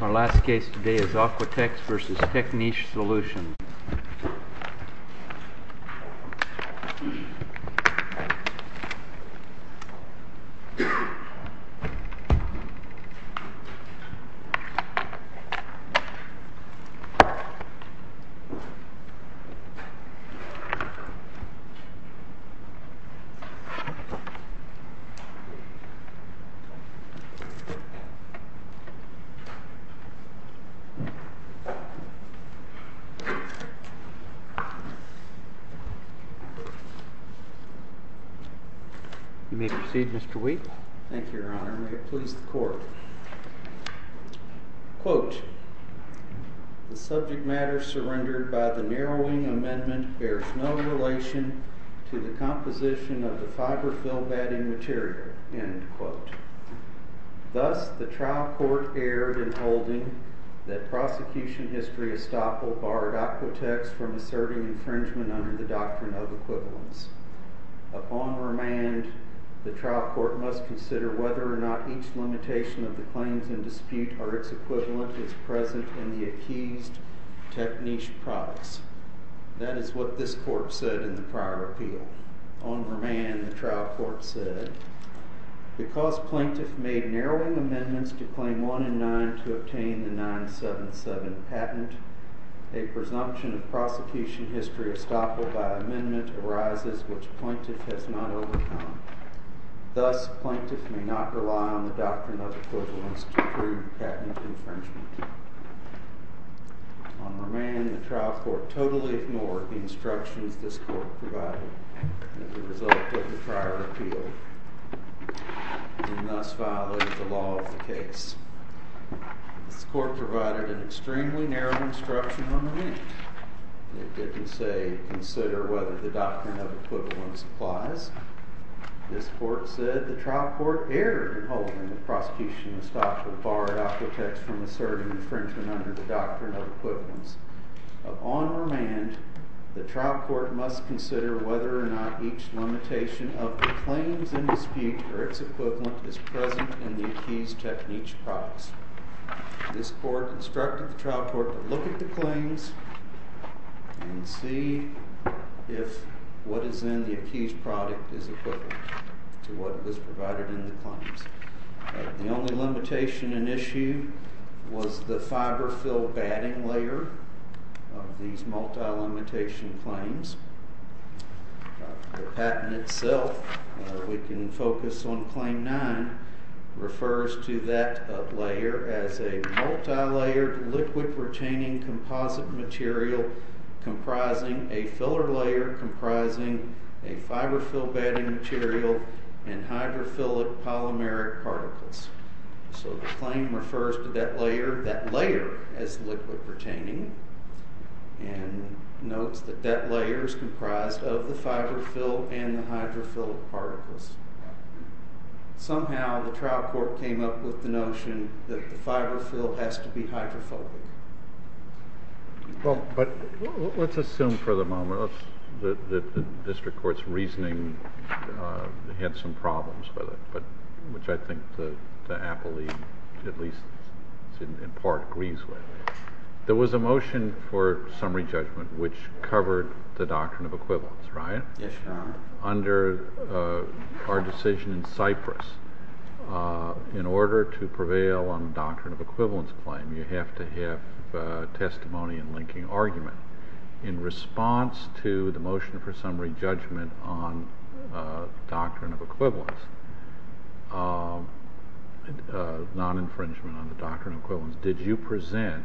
Our last case today is Aquatex v. Techniche Solutions You may proceed, Mr. Wheat. Thank you, Your Honor. May it please the Court. Quote, The subject matter surrendered by the narrowing amendment bears no relation to the composition of the fiberfill batting material. End quote. Thus, the trial court erred in holding that prosecution history estoppel barred Aquatex from asserting infringement under the doctrine of equivalence. Upon remand, the trial court must consider whether or not each limitation of the claims in dispute or its equivalent is present in the accused Techniche products. That is what this court said in the prior appeal. On remand, the trial court said, Because plaintiff made narrowing amendments to Claim 1 and 9 to obtain the 977 patent, a presumption of prosecution history estoppel by amendment arises which plaintiff has not overcome. Thus, plaintiff may not rely on the doctrine of equivalence to prove patent infringement. On remand, the trial court totally ignored the instructions this court provided as a result of the prior appeal and thus violated the law of the case. This court provided an extremely narrow instruction on remand. It didn't say, consider whether the doctrine of equivalence applies. This court said, The trial court erred in holding that prosecution estoppel barred Aquatex from asserting infringement under the doctrine of equivalence. Upon remand, the trial court must consider whether or not each limitation of the claims in dispute or its equivalent is present in the accused Techniche products. This court instructed the trial court to look at the claims and see if what is in the accused product is equivalent to what was provided in the claims. The only limitation in issue was the fiber fill batting layer of these multi-limitation claims. The patent itself, we can focus on claim nine, refers to that layer as a multi-layered liquid retaining composite material comprising a filler layer comprising a fiber fill batting material and hydrophilic polymeric particles. So the claim refers to that layer as liquid retaining and notes that that layer is comprised of the fiber fill and the hydrophilic particles. Somehow the trial court came up with the notion that the fiber fill has to be hydrophobic. Well, but let's assume for the moment that the district court's reasoning had some problems with it, which I think the appellee at least in part agrees with. There was a motion for summary judgment which covered the doctrine of equivalence, right? Yes, Your Honor. Under our decision in Cyprus, in order to prevail on the doctrine of equivalence claim, you have to have testimony in linking argument. In response to the motion for summary judgment on doctrine of equivalence, non-infringement on the doctrine of equivalence, did you present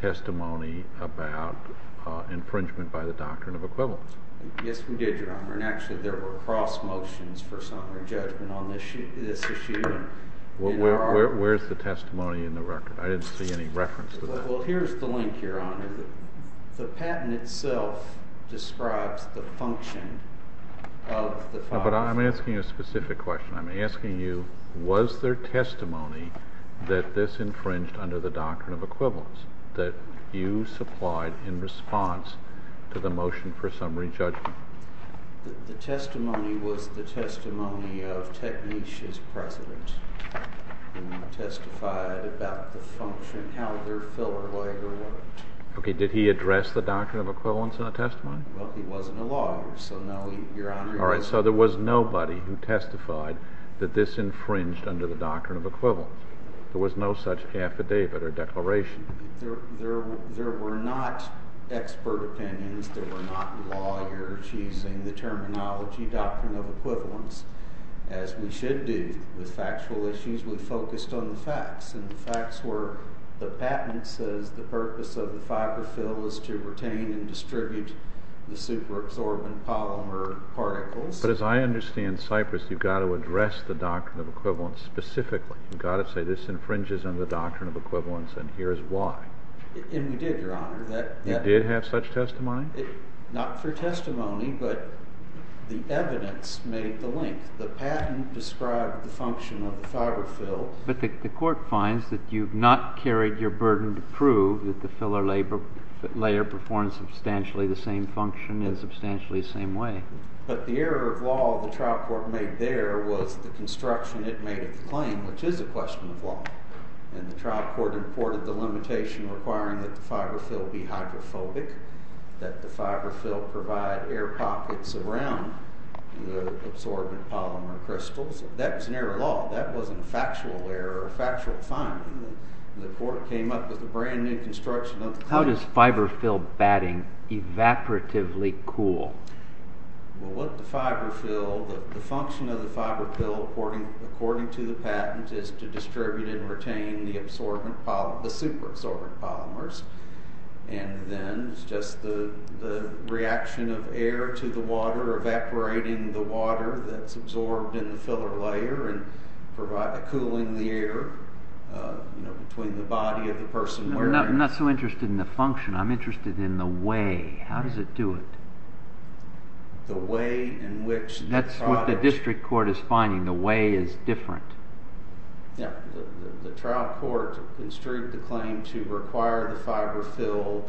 testimony about infringement by the doctrine of equivalence? Yes, we did, Your Honor. And actually, there were cross motions for summary judgment on this issue. Well, where's the testimony in the record? I didn't see any reference to that. Well, here's the link, Your Honor. The patent itself describes the function of the fiber fill. But I'm asking a specific question. I'm asking you, was there testimony that this infringed under the doctrine of equivalence that you supplied in response to the motion for summary judgment? The testimony was the testimony of Teknish's president, who testified about the function, how their filler lawyer worked. OK, did he address the doctrine of equivalence in a testimony? Well, he wasn't a lawyer, so no, Your Honor. All right, so there was nobody who testified that this infringed under the doctrine of equivalence. There was no such affidavit or declaration. There were not expert opinions. There were not lawyers using the terminology doctrine of equivalence, as we should do with factual issues. We focused on the facts, and the facts were the patent says the purpose of the fiber fill is to retain and distribute the superabsorbent polymer particles. But as I understand Cyprus, you've got to address the doctrine of equivalence specifically. You've got to say this infringes under the doctrine of equivalence, and here's why. And we did, Your Honor. You did have such testimony? Not for testimony, but the evidence made the link. The patent described the function of the fiber fill. But the court finds that you've not carried your burden to prove that the filler layer performs substantially the same function in a substantially same way. But the error of law the trial court made there was the construction it made of the claim, which is a question of law. And the trial court imported the limitation requiring that the fiber fill be hydrophobic, that the fiber fill provide air pockets around the absorbent polymer crystals. That was an error of law. That wasn't a factual error or a factual finding. The court came up with a brand new construction of the claim. How does fiber fill batting evaporatively cool? The function of the fiber fill, according to the patent, is to distribute and retain the superabsorbent polymers. And then it's just the reaction of air to the water evaporating the water that's absorbed in the filler layer and cooling the air between the body of the person wearing it. I'm not so interested in the function. I'm interested in the way. How does it do it? That's what the district court is finding. The way is different. The trial court construed the claim to require the fiber fill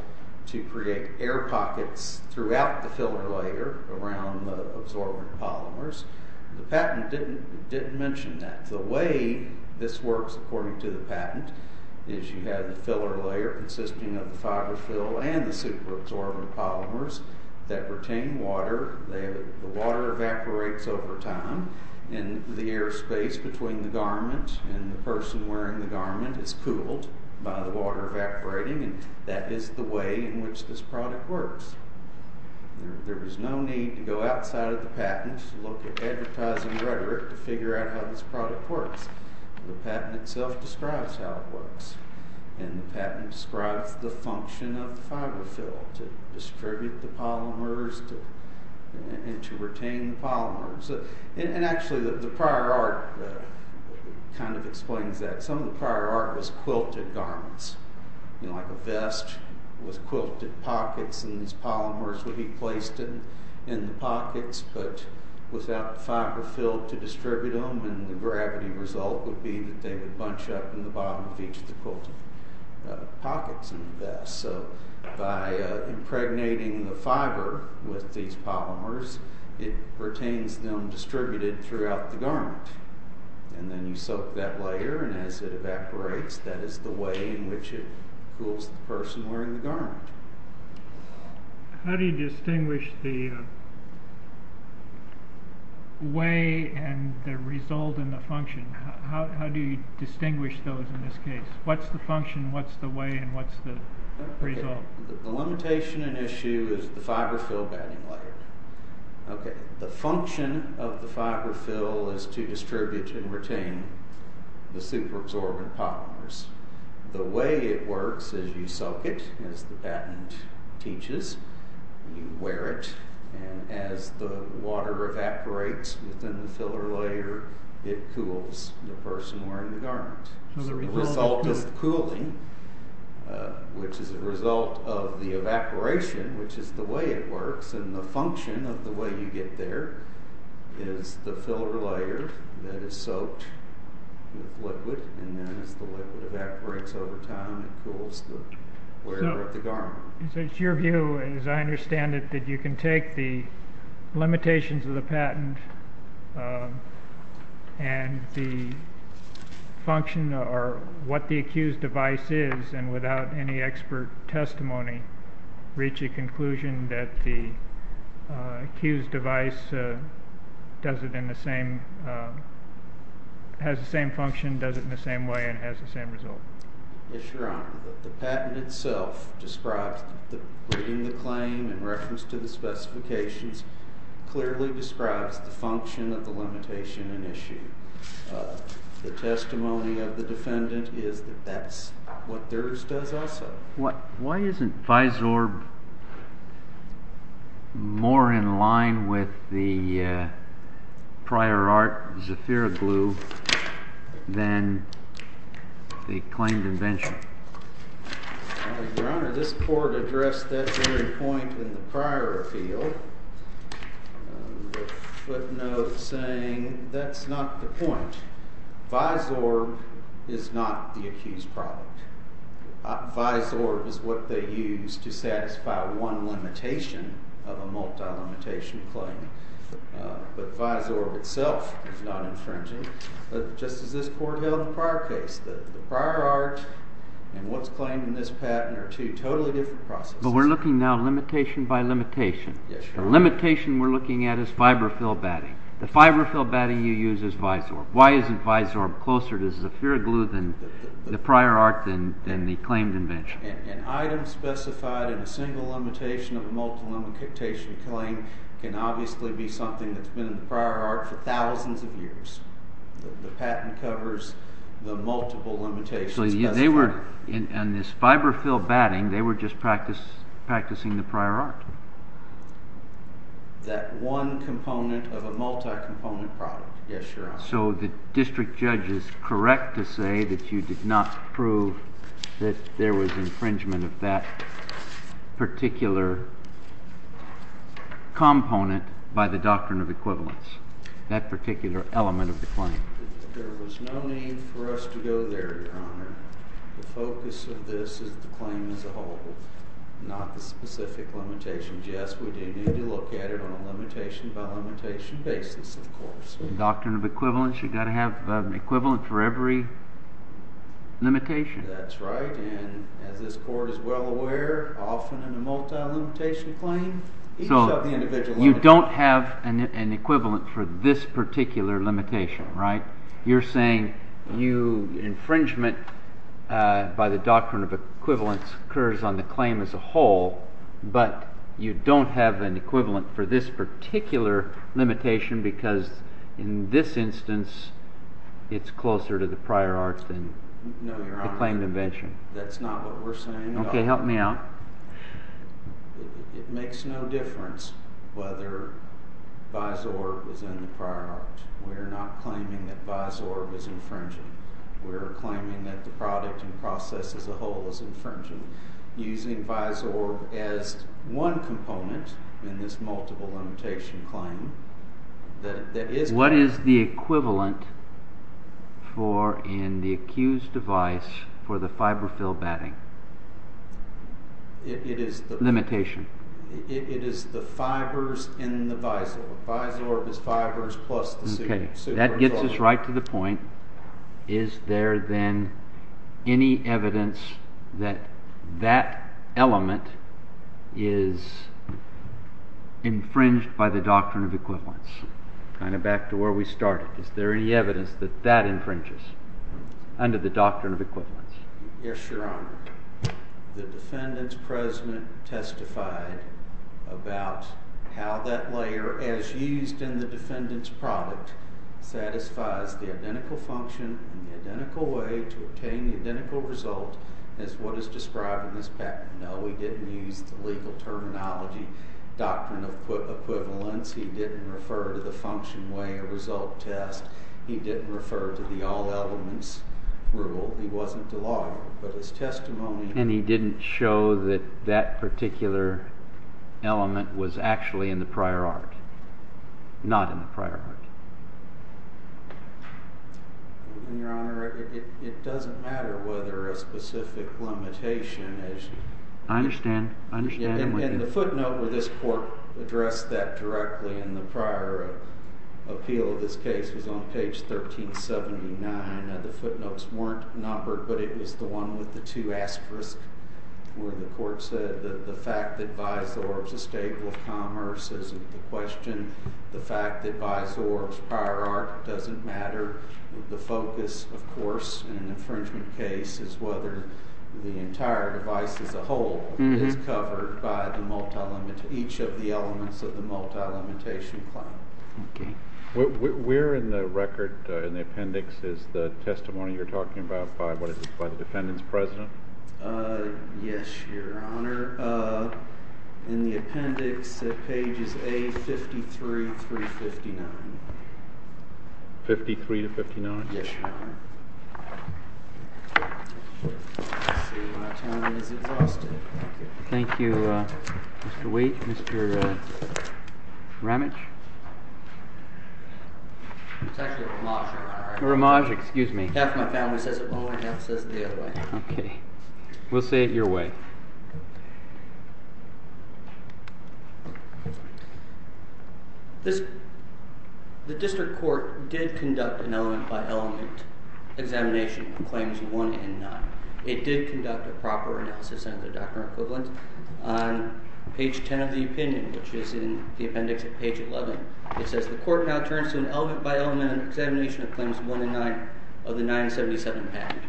to create air pockets throughout the filler layer around the absorbent polymers. The patent didn't mention that. The way this works, according to the patent, is you have the filler layer consisting of the fiber fill and the superabsorbent polymers that retain water. The water evaporates over time, and the air space between the garment and the person wearing the garment is cooled by the water evaporating. That is the way in which this product works. There is no need to go outside of the patent to look at advertising rhetoric to figure out how this product works. The patent itself describes how it works. The patent describes the function of the fiber fill to distribute the polymers and to retain the polymers. Actually, the prior art kind of explains that. Some of the prior art was quilted garments. Like a vest with quilted pockets. These polymers would be placed in the pockets, but without the fiber fill to distribute them. The gravity result would be that they would bunch up in the bottom of each of the quilted pockets in the vest. By impregnating the fiber with these polymers, it retains them distributed throughout the garment. Then you soak that layer, and as it evaporates, that is the way in which it cools the person wearing the garment. How do you distinguish the way and the result and the function? How do you distinguish those in this case? What's the function, what's the way, and what's the result? The limitation and issue is the fiber fill batting layer. The function of the fiber fill is to distribute and retain the super absorbent polymers. The way it works is you soak it, as the patent teaches. You wear it, and as the water evaporates within the filler layer, it cools the person wearing the garment. The result is the cooling, which is a result of the evaporation, which is the way it works. The function of the way you get there is the filler layer that is soaked with liquid, and then as the liquid evaporates over time, it cools the wearer of the garment. It's your view, as I understand it, that you can take the limitations of the patent and the function or what the accused device is, and without any expert testimony, reach a conclusion that the accused device does it in the same, has the same function, does it in the same way, and has the same result. Yes, Your Honor. The patent itself describes the, reading the claim in reference to the specifications, clearly describes the function of the limitation and issue. The testimony of the defendant is that that's what theirs does also. Why isn't Vysorb more in line with the prior art, Zephyroglue, than the claimed invention? Your Honor, this court addressed that very point in the prior appeal. The footnote saying that's not the point. Vysorb is not the accused product. Vysorb is what they use to satisfy one limitation of a multi-limitation claim. But Vysorb itself is not infringing. But just as this court held in the prior case, the prior art and what's claimed in this patent are two totally different processes. But we're looking now limitation by limitation. Yes, Your Honor. The limitation we're looking at is fiberfill batting. The fiberfill batting you use is Vysorb. Why isn't Vysorb closer to Zephyroglue than the prior art than the claimed invention? An item specified in a single limitation of a multi-limitation claim can obviously be something that's been in the prior art for thousands of years. The patent covers the multiple limitations. And this fiberfill batting, they were just practicing the prior art. That one component of a multi-component product, yes, Your Honor. So the district judge is correct to say that you did not prove that there was infringement of that particular component by the doctrine of equivalence, that particular element of the claim. There was no need for us to go there, Your Honor. The focus of this is the claim as a whole, not the specific limitation. Yes, we do need to look at it on a limitation by limitation basis, of course. Doctrine of equivalence, you've got to have an equivalent for every limitation. That's right. And as this Court is well aware, often in a multi-limitation claim, each of the individual elements... So you don't have an equivalent for this particular limitation, right? You're saying infringement by the doctrine of equivalence occurs on the claim as a whole, but you don't have an equivalent for this particular limitation because in this instance, it's closer to the prior art than the claimed invention. No, Your Honor, that's not what we're saying at all. Okay, help me out. It makes no difference whether BISORB is in the prior art. We're not claiming that BISORB is infringing. We're claiming that the product and process as a whole is infringing. Using BISORB as one component in this multiple limitation claim, that is... What is the equivalent for in the accused device for the fiberfill batting? It is the... Limitation. It is the fibers in the BISORB. BISORB is fibers plus the... Okay, that gets us right to the point. Is there then any evidence that that element is infringed by the doctrine of equivalence? Kind of back to where we started. Is there any evidence that that infringes under the doctrine of equivalence? Yes, Your Honor. The defendant's president testified about how that layer, as used in the defendant's product, satisfies the identical function and the identical way to obtain the identical result as what is described in this patent. No, he didn't use the legal terminology doctrine of equivalence. He didn't refer to the function, way, or result test. He didn't refer to the all elements rule. He wasn't a lawyer, but his testimony... And he didn't show that that particular element was actually in the prior art. Not in the prior art. Your Honor, it doesn't matter whether a specific limitation is... I understand. I understand. In the footnote where this court addressed that directly in the prior appeal of this case, which was on page 1379, the footnotes weren't numbered, but it was the one with the two asterisks where the court said that the fact that BISORB is a state of commerce isn't the question. The fact that BISORB's prior art doesn't matter. The focus, of course, in an infringement case is whether the entire device as a whole is covered by each of the elements of the multi-limitation claim. Okay. Where in the record, in the appendix, is the testimony you're talking about by the defendant's president? Yes, Your Honor. In the appendix at pages A53 through 59. 53 to 59? Yes, Your Honor. Let's see. My time is exhausted. Thank you, Mr. Waite. Mr. Ramage? It's actually Ramage, Your Honor. Ramage, excuse me. Half my family says it one way, half says it the other way. Okay. We'll say it your way. The district court did conduct an element-by-element examination of claims one and none. It did conduct a proper analysis under the doctrine of equivalence on page 10 of the opinion, which is in the appendix at page 11. It says the court now turns to an element-by-element examination of claims one and nine of the 977 package.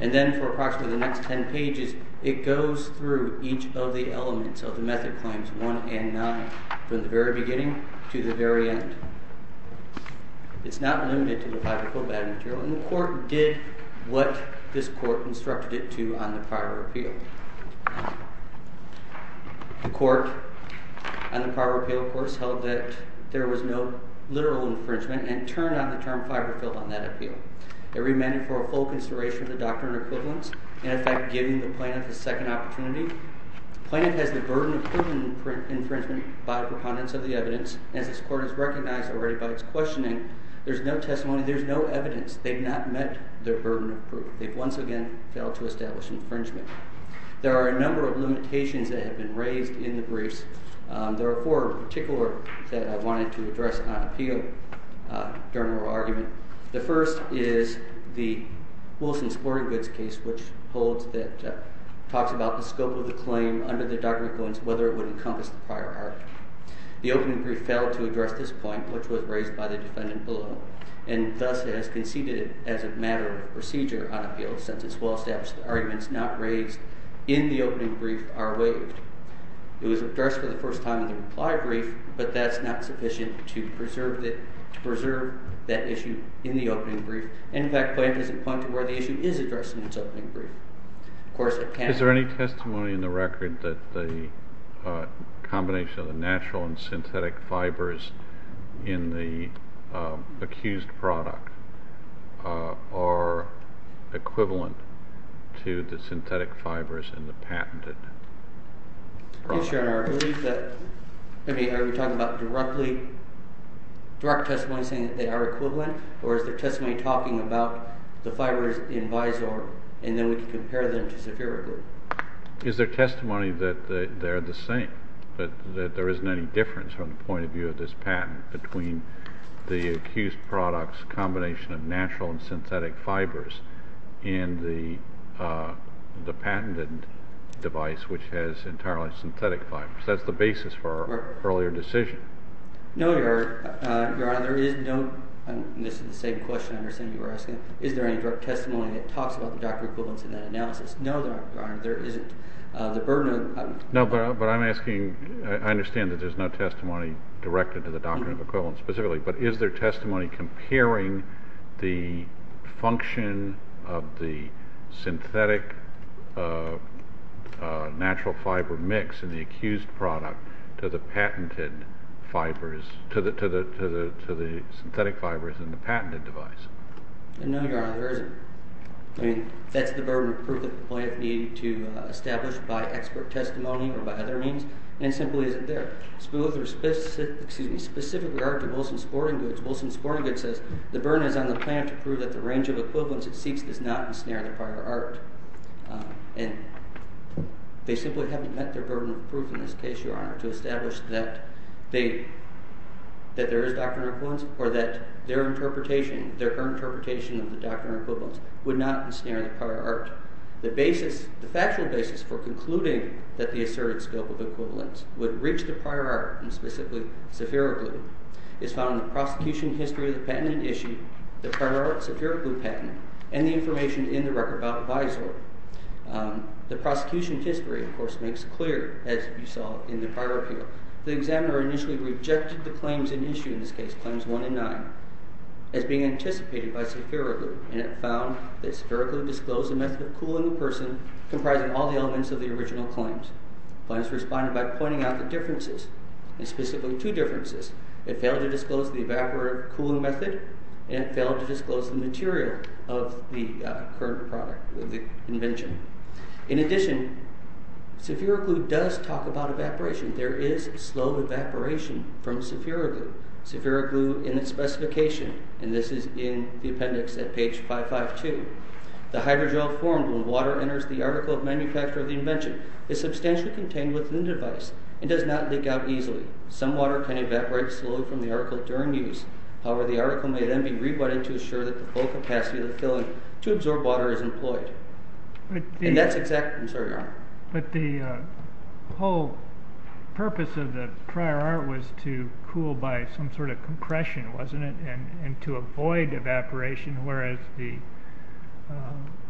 And then for approximately the next 10 pages, it goes through each of the elements of the method claims one and nine from the very beginning to the very end. It's not limited to the fiberfill battery material, and the court did what this court instructed it to on the prior appeal. The court on the prior appeal, of course, held that there was no literal infringement and turned down the term fiberfill on that appeal. It remained for a full consideration of the doctrine of equivalence, in effect giving the plaintiff a second opportunity. Plaintiff has the burden of proven infringement by the preponderance of the evidence. As this court has recognized already by its questioning, there's no testimony, there's no evidence. They've not met their burden of proof. They've once again failed to establish infringement. There are a number of limitations that have been raised in the briefs. There are four in particular that I wanted to address on appeal during our argument. The first is the Wilson-Sporting Goods case, which talks about the scope of the claim under the doctrine of equivalence, whether it would encompass the prior argument. The opening brief failed to address this point, which was raised by the defendant below, and thus has conceded as a matter of procedure on appeal, since its well-established arguments not raised in the opening brief are waived. It was addressed for the first time in the reply brief, but that's not sufficient to preserve that issue in the opening brief. In fact, plaintiff doesn't point to where the issue is addressed in its opening brief. Of course, it can be. Are we talking about direct testimony saying that they are equivalent, or is there testimony talking about the fibers in visor and then we can compare them to separately? Is there testimony that they're the same, that there isn't any difference from the point of view of this patent between the accused product's combination of natural and synthetic fibers and the patented device, which has entirely synthetic fibers? That's the basis for our earlier decision. No, Your Honor, there is no—and this is the same question I understand you were asking. Is there any direct testimony that talks about the doctrine of equivalence in that analysis? No, Your Honor, there isn't. The burden of— No, but I'm asking—I understand that there's no testimony directed to the doctrine of equivalence specifically, but is there testimony comparing the function of the synthetic natural fiber mix in the accused product to the patented fibers— to the synthetic fibers in the patented device? I mean, that's the burden of proof that the plaintiff needed to establish by expert testimony or by other means, and it simply isn't there. Specifically argued in Wilson's Sporting Goods, Wilson's Sporting Goods says, the burden is on the plaintiff to prove that the range of equivalence it seeks does not ensnare the prior art. And they simply haven't met their burden of proof in this case, Your Honor, to establish that there is doctrine of equivalence or that their interpretation, their current interpretation of the doctrine of equivalence would not ensnare the prior art. The basis, the factual basis for concluding that the asserted scope of equivalence would reach the prior art, and specifically sephiraglue, is found in the prosecution history of the patent issue, the prior art sephiraglue patent, and the information in the record about visor. The prosecution history, of course, makes clear, as you saw in the prior appeal, the examiner initially rejected the claims in issue, in this case claims one and nine, as being anticipated by sephiraglue, and it found that sephiraglue disclosed the method of cooling the person comprising all the elements of the original claims. The plaintiff responded by pointing out the differences, and specifically two differences. It failed to disclose the evaporative cooling method, and it failed to disclose the material of the current product, the invention. In addition, sephiraglue does talk about evaporation. There is slow evaporation from sephiraglue. Sephiraglue, in its specification, and this is in the appendix at page 552, the hydrogel formed when water enters the article of manufacture of the invention is substantially contained within the device and does not leak out easily. Some water can evaporate slowly from the article during use. However, the article may then be rewritten to assure that the full capacity of the filling to absorb water is employed. And that's exactly the concern, Your Honor. But the whole purpose of the prior art was to cool by some sort of compression, wasn't it, and to avoid evaporation, whereas the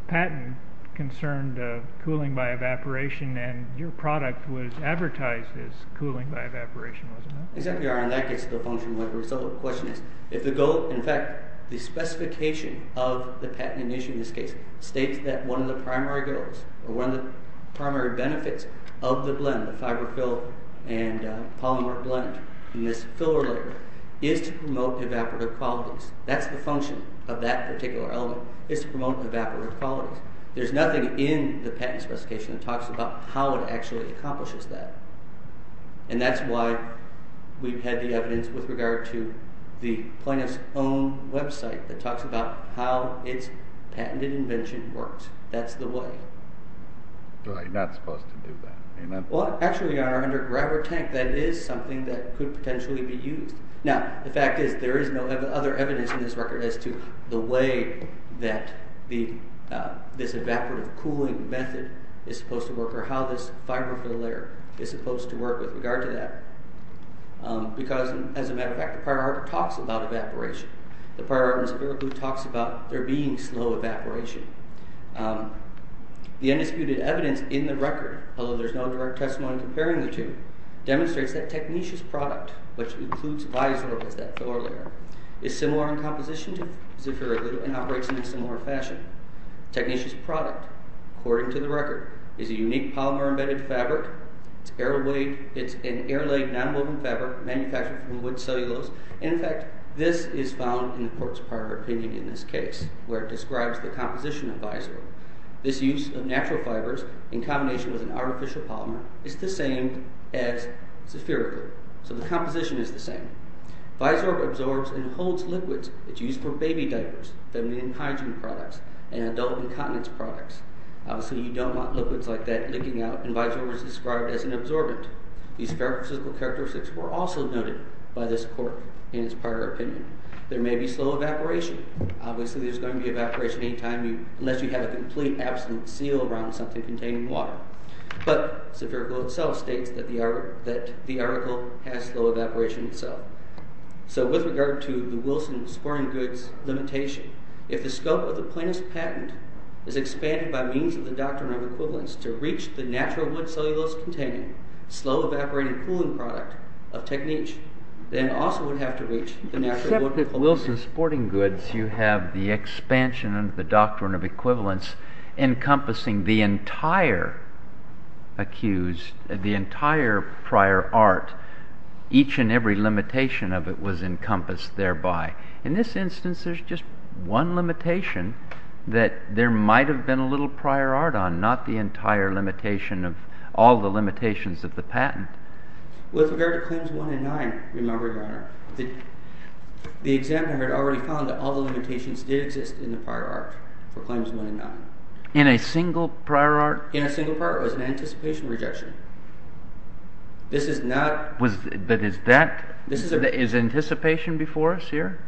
patent concerned cooling by evaporation, and your product was advertised as cooling by evaporation, wasn't it? Exactly, Your Honor, and that gets to the function of the result. The question is if the goal, in fact, the specification of the patent in this case states that one of the primary goals or one of the primary benefits of the blend, the fiberfill and polymer blend in this filler layer, is to promote evaporative qualities. That's the function of that particular element, is to promote evaporative qualities. There's nothing in the patent specification that talks about how it actually accomplishes that. And that's why we've had the evidence with regard to the plaintiff's own website that talks about how its patented invention works. That's the way. You're not supposed to do that, am I? Well, actually, Your Honor, under Grabber Tank, that is something that could potentially be used. Now, the fact is there is no other evidence in this record as to the way that this evaporative cooling method is supposed to work or how this fiberfill layer is supposed to work with regard to that. Because, as a matter of fact, the prior art talks about evaporation. The prior art in Spiracle talks about there being slow evaporation. The undisputed evidence in the record, although there's no direct testimony comparing the two, demonstrates that technetious product, which includes Lysol as that filler layer, is similar in composition to Spiracle and operates in a similar fashion. Technetious product, according to the record, is a unique polymer-embedded fabric. It's an air-laid, nonwoven fabric manufactured from wood cellulose. In fact, this is found in the court's prior opinion in this case, where it describes the composition of Lysol. This use of natural fibers in combination with an artificial polymer is the same as Spiracle. So the composition is the same. Vysorb absorbs and holds liquids that are used for baby diapers, feminine hygiene products, and adult incontinence products. Obviously, you don't want liquids like that leaking out, and Vysorb is described as an absorbent. These physical characteristics were also noted by this court in its prior opinion. There may be slow evaporation. Obviously, there's going to be evaporation any time unless you have a complete absolute seal around something containing water. But Spiracle itself states that the article has slow evaporation itself. So with regard to the Wilson sporting goods limitation, if the scope of the plaintiff's patent is expanded by means of the Doctrine of Equivalence to reach the natural wood cellulose-containing, slow-evaporating cooling product of Technet, then it also would have to reach the natural wood- Except that for Wilson sporting goods, you have the expansion under the Doctrine of Equivalence encompassing the entire accused, the entire prior art. Each and every limitation of it was encompassed thereby. In this instance, there's just one limitation that there might have been a little prior art on, not the entire limitation of all the limitations of the patent. With regard to Claims 1 and 9, Your Honor, the examiner had already found that all the limitations did exist in the prior art for Claims 1 and 9. In a single prior art? In a single prior art. It was an anticipation rejection. This is not- But is that- This is a- Is anticipation before us here?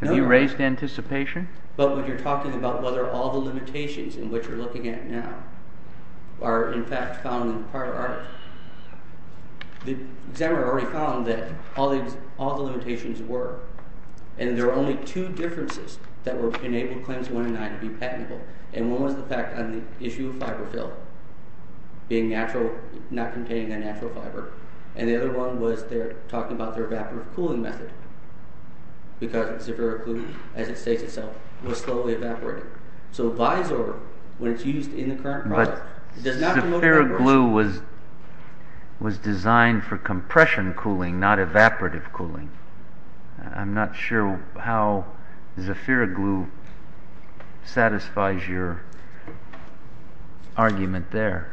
No. Have you raised anticipation? But when you're talking about whether all the limitations in which you're looking at now are in fact found in the prior art, the examiner already found that all the limitations were, and there were only two differences that would enable Claims 1 and 9 to be patentable. And one was the fact on the issue of fiberfill, being natural, not containing a natural fiber. And the other one was they're talking about their evaporative cooling method, because Zephyric Glue, as it states itself, was slowly evaporating. So Visor, when it's used in the current product- Zephyric Glue was designed for compression cooling, not evaporative cooling. I'm not sure how Zephyric Glue satisfies your argument there.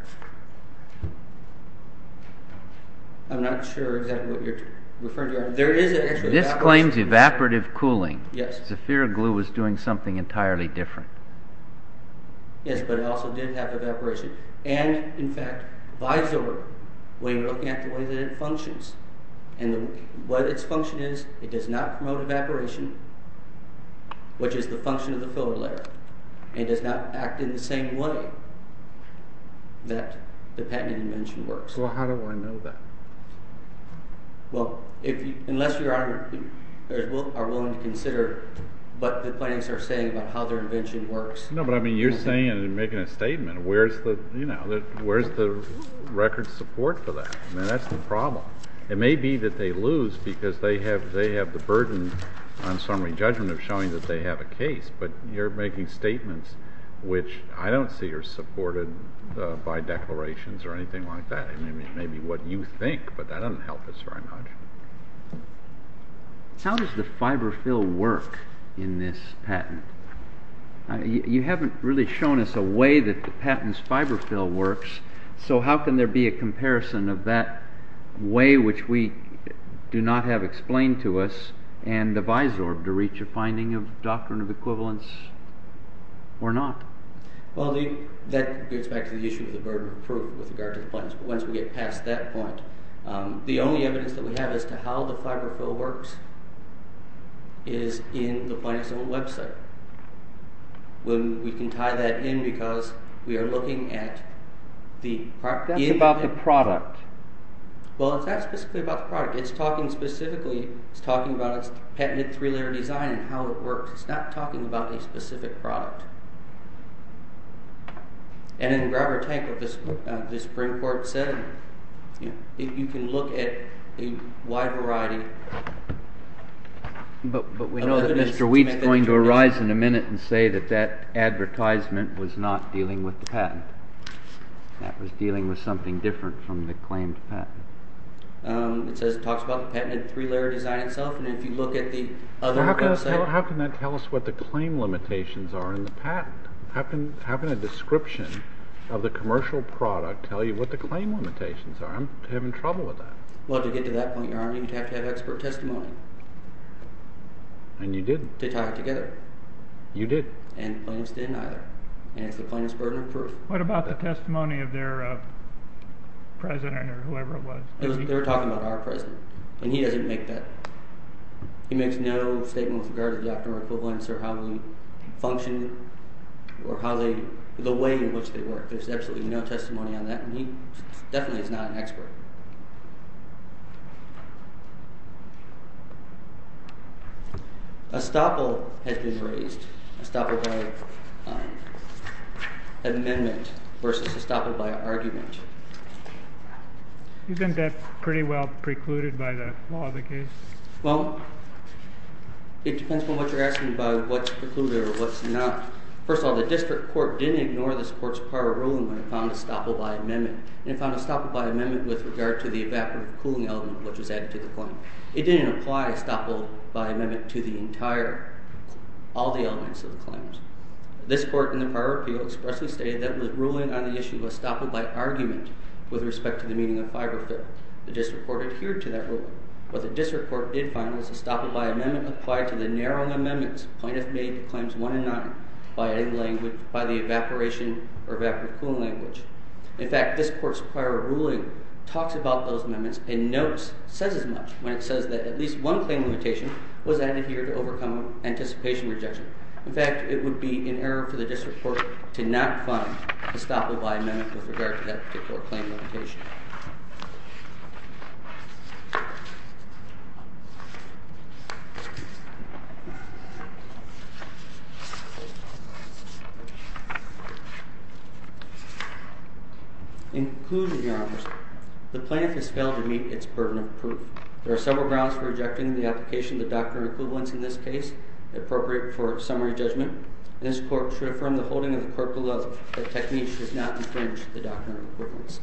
I'm not sure exactly what you're referring to. This claims evaporative cooling. Yes. Zephyric Glue was doing something entirely different. Yes, but it also did have evaporation. And, in fact, Visor, when you're looking at the way that it functions, and what its function is, it does not promote evaporation, which is the function of the filler layer. It does not act in the same way that the patented invention works. Well, how do I know that? Well, unless you are willing to consider what the plaintiffs are saying about how their invention works. No, but, I mean, you're saying and making a statement, where's the record support for that? I mean, that's the problem. It may be that they lose because they have the burden, on summary judgment, of showing that they have a case, but you're making statements which I don't see are supported by declarations or anything like that. I mean, it may be what you think, but that doesn't help us very much. How does the fiber fill work in this patent? You haven't really shown us a way that the patent's fiber fill works, so how can there be a comparison of that way, which we do not have explained to us, and the Visor to reach a finding of doctrine of equivalence or not? Well, that gets back to the issue of the burden of proof with regard to the plaintiffs. But once we get past that point, the only evidence that we have as to how the fiber fill works is in the plaintiff's own website. We can tie that in because we are looking at the… That's about the product. Well, it's not specifically about the product. It's talking specifically, it's talking about its patented three-layer design and how it works. It's not talking about a specific product. And in Grabber Tank, what this Supreme Court said, if you can look at a wide variety… But we know that Mr. Weed's going to arise in a minute and say that that advertisement was not dealing with the patent. That was dealing with something different from the claimed patent. It talks about the patented three-layer design itself, and if you look at the other website… How can that tell us what the claim limitations are in the patent? How can a description of the commercial product tell you what the claim limitations are? I'm having trouble with that. Well, to get to that point, Your Honor, you'd have to have expert testimony. And you didn't. To tie it together. You did. And the plaintiffs didn't either. And it's the plaintiff's burden of proof. What about the testimony of their president or whoever it was? They were talking about our president, and he doesn't make that… He makes no statement with regard to the optimal equivalents or how they function or how they… the way in which they work. There's absolutely no testimony on that, and he definitely is not an expert. A stopple has been raised. A stopple by amendment versus a stopple by argument. You think that's pretty well precluded by the law of the case? Well, it depends on what you're asking by what's precluded or what's not. First of all, the district court didn't ignore this court's prior ruling when it found a stopple by amendment. It found a stopple by amendment with regard to the evaporative cooling element which was added to the claim. It didn't apply a stopple by amendment to the entire… all the elements of the claims. This court in the prior appeal expressly stated that the ruling on the issue of a stopple by argument with respect to the meaning of fiber fill. The district court adhered to that ruling. What the district court did find was a stopple by amendment applied to the narrowing amendments plaintiff made to Claims 1 and 9 by the evaporation or evaporative cooling language. In fact, this court's prior ruling talks about those amendments and notes, says as much, when it says that at least one claim limitation was added here to overcome anticipation rejection. In fact, it would be in error for the district court to not find a stopple by amendment with regard to that particular claim limitation. In conclusion, Your Honor, the plaintiff has failed to meet its burden of proof. There are several grounds for rejecting the application of the Doctrine of Equivalence in this case, appropriate for summary judgment. This court should affirm the holding of the court below that technique does not infringe the Doctrine of Equivalence.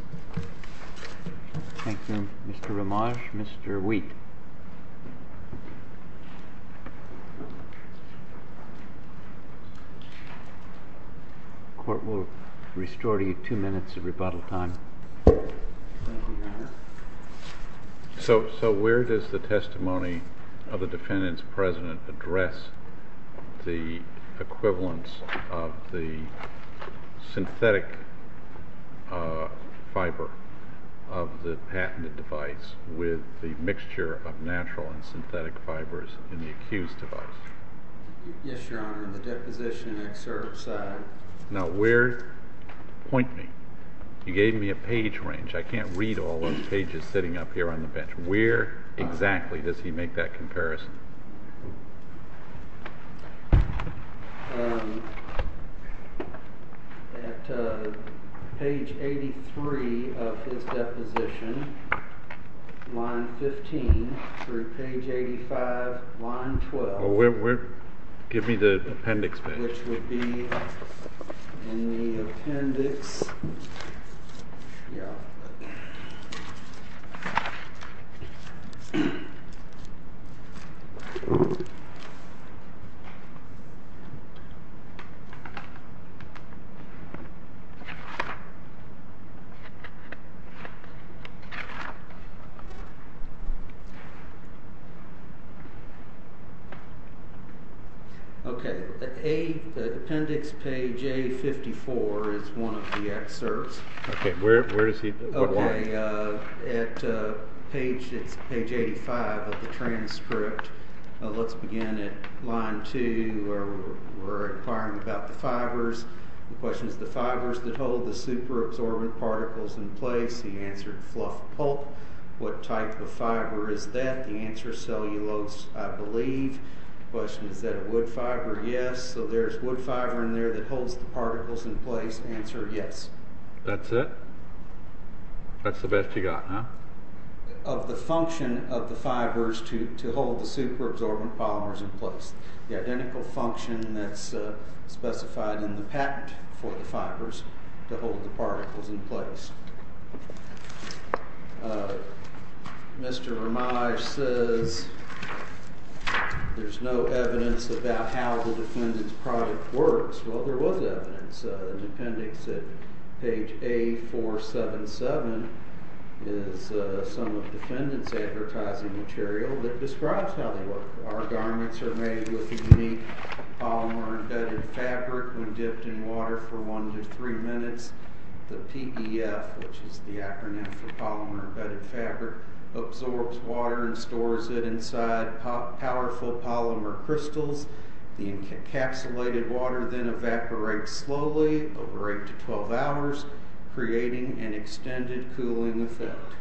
Thank you. Mr. Romage. Mr. Wheat. The court will restore to you two minutes of rebuttal time. Thank you, Your Honor. So where does the testimony of the defendant's president address the equivalence of the synthetic fiber of the patented device with the mixture of natural and synthetic fibers in the accused device? Yes, Your Honor. In the deposition excerpt, sir. Now where, point me. You gave me a page range. I can't read all those pages sitting up here on the bench. Where exactly does he make that comparison? At page 83 of his deposition, line 15 through page 85, line 12. Give me the appendix page. Which would be in the appendix. Yeah. Okay. The appendix page A54 is one of the excerpts. Okay. Where is he? At page 85 of the transcript, let's begin at line 2 where we're inquiring about the fibers. The question is, the fibers that hold the superabsorbent particles in place. He answered fluff pulp. What type of fiber is that? The answer is cellulose, I believe. The question is, is that a wood fiber? Yes. So there's wood fiber in there that holds the particles in place. Answer, yes. That's it? That's the best you got, huh? Of the function of the fibers to hold the superabsorbent polymers in place, the identical function that's specified in the patent for the fibers to hold the particles in place. Mr. Ramaj says there's no evidence about how the defendant's product works. Well, there was evidence in the appendix at page A477 is some of the defendant's advertising material that describes how they work. Our garments are made with unique polymer embedded fabric when dipped in water for one to three minutes. The PBF, which is the acronym for polymer embedded fabric, absorbs water and stores it inside powerful polymer crystals. The encapsulated water then evaporates slowly over 8 to 12 hours, creating an extended cooling effect.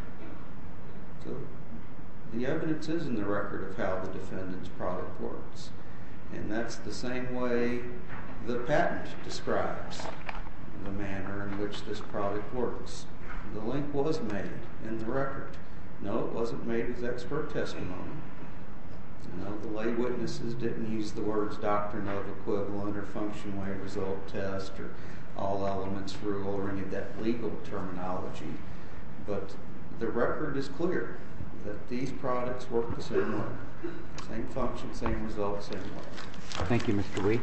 The evidence is in the record of how the defendant's product works, and that's the same way the patent describes the manner in which this product works. The link was made in the record. No, it wasn't made as expert testimony. No, the lay witnesses didn't use the words doctrinal equivalent or function way result test or all elements rule or any of that legal terminology. But the record is clear that these products work the same way, same function, same result, same way. Thank you, Mr. Lee.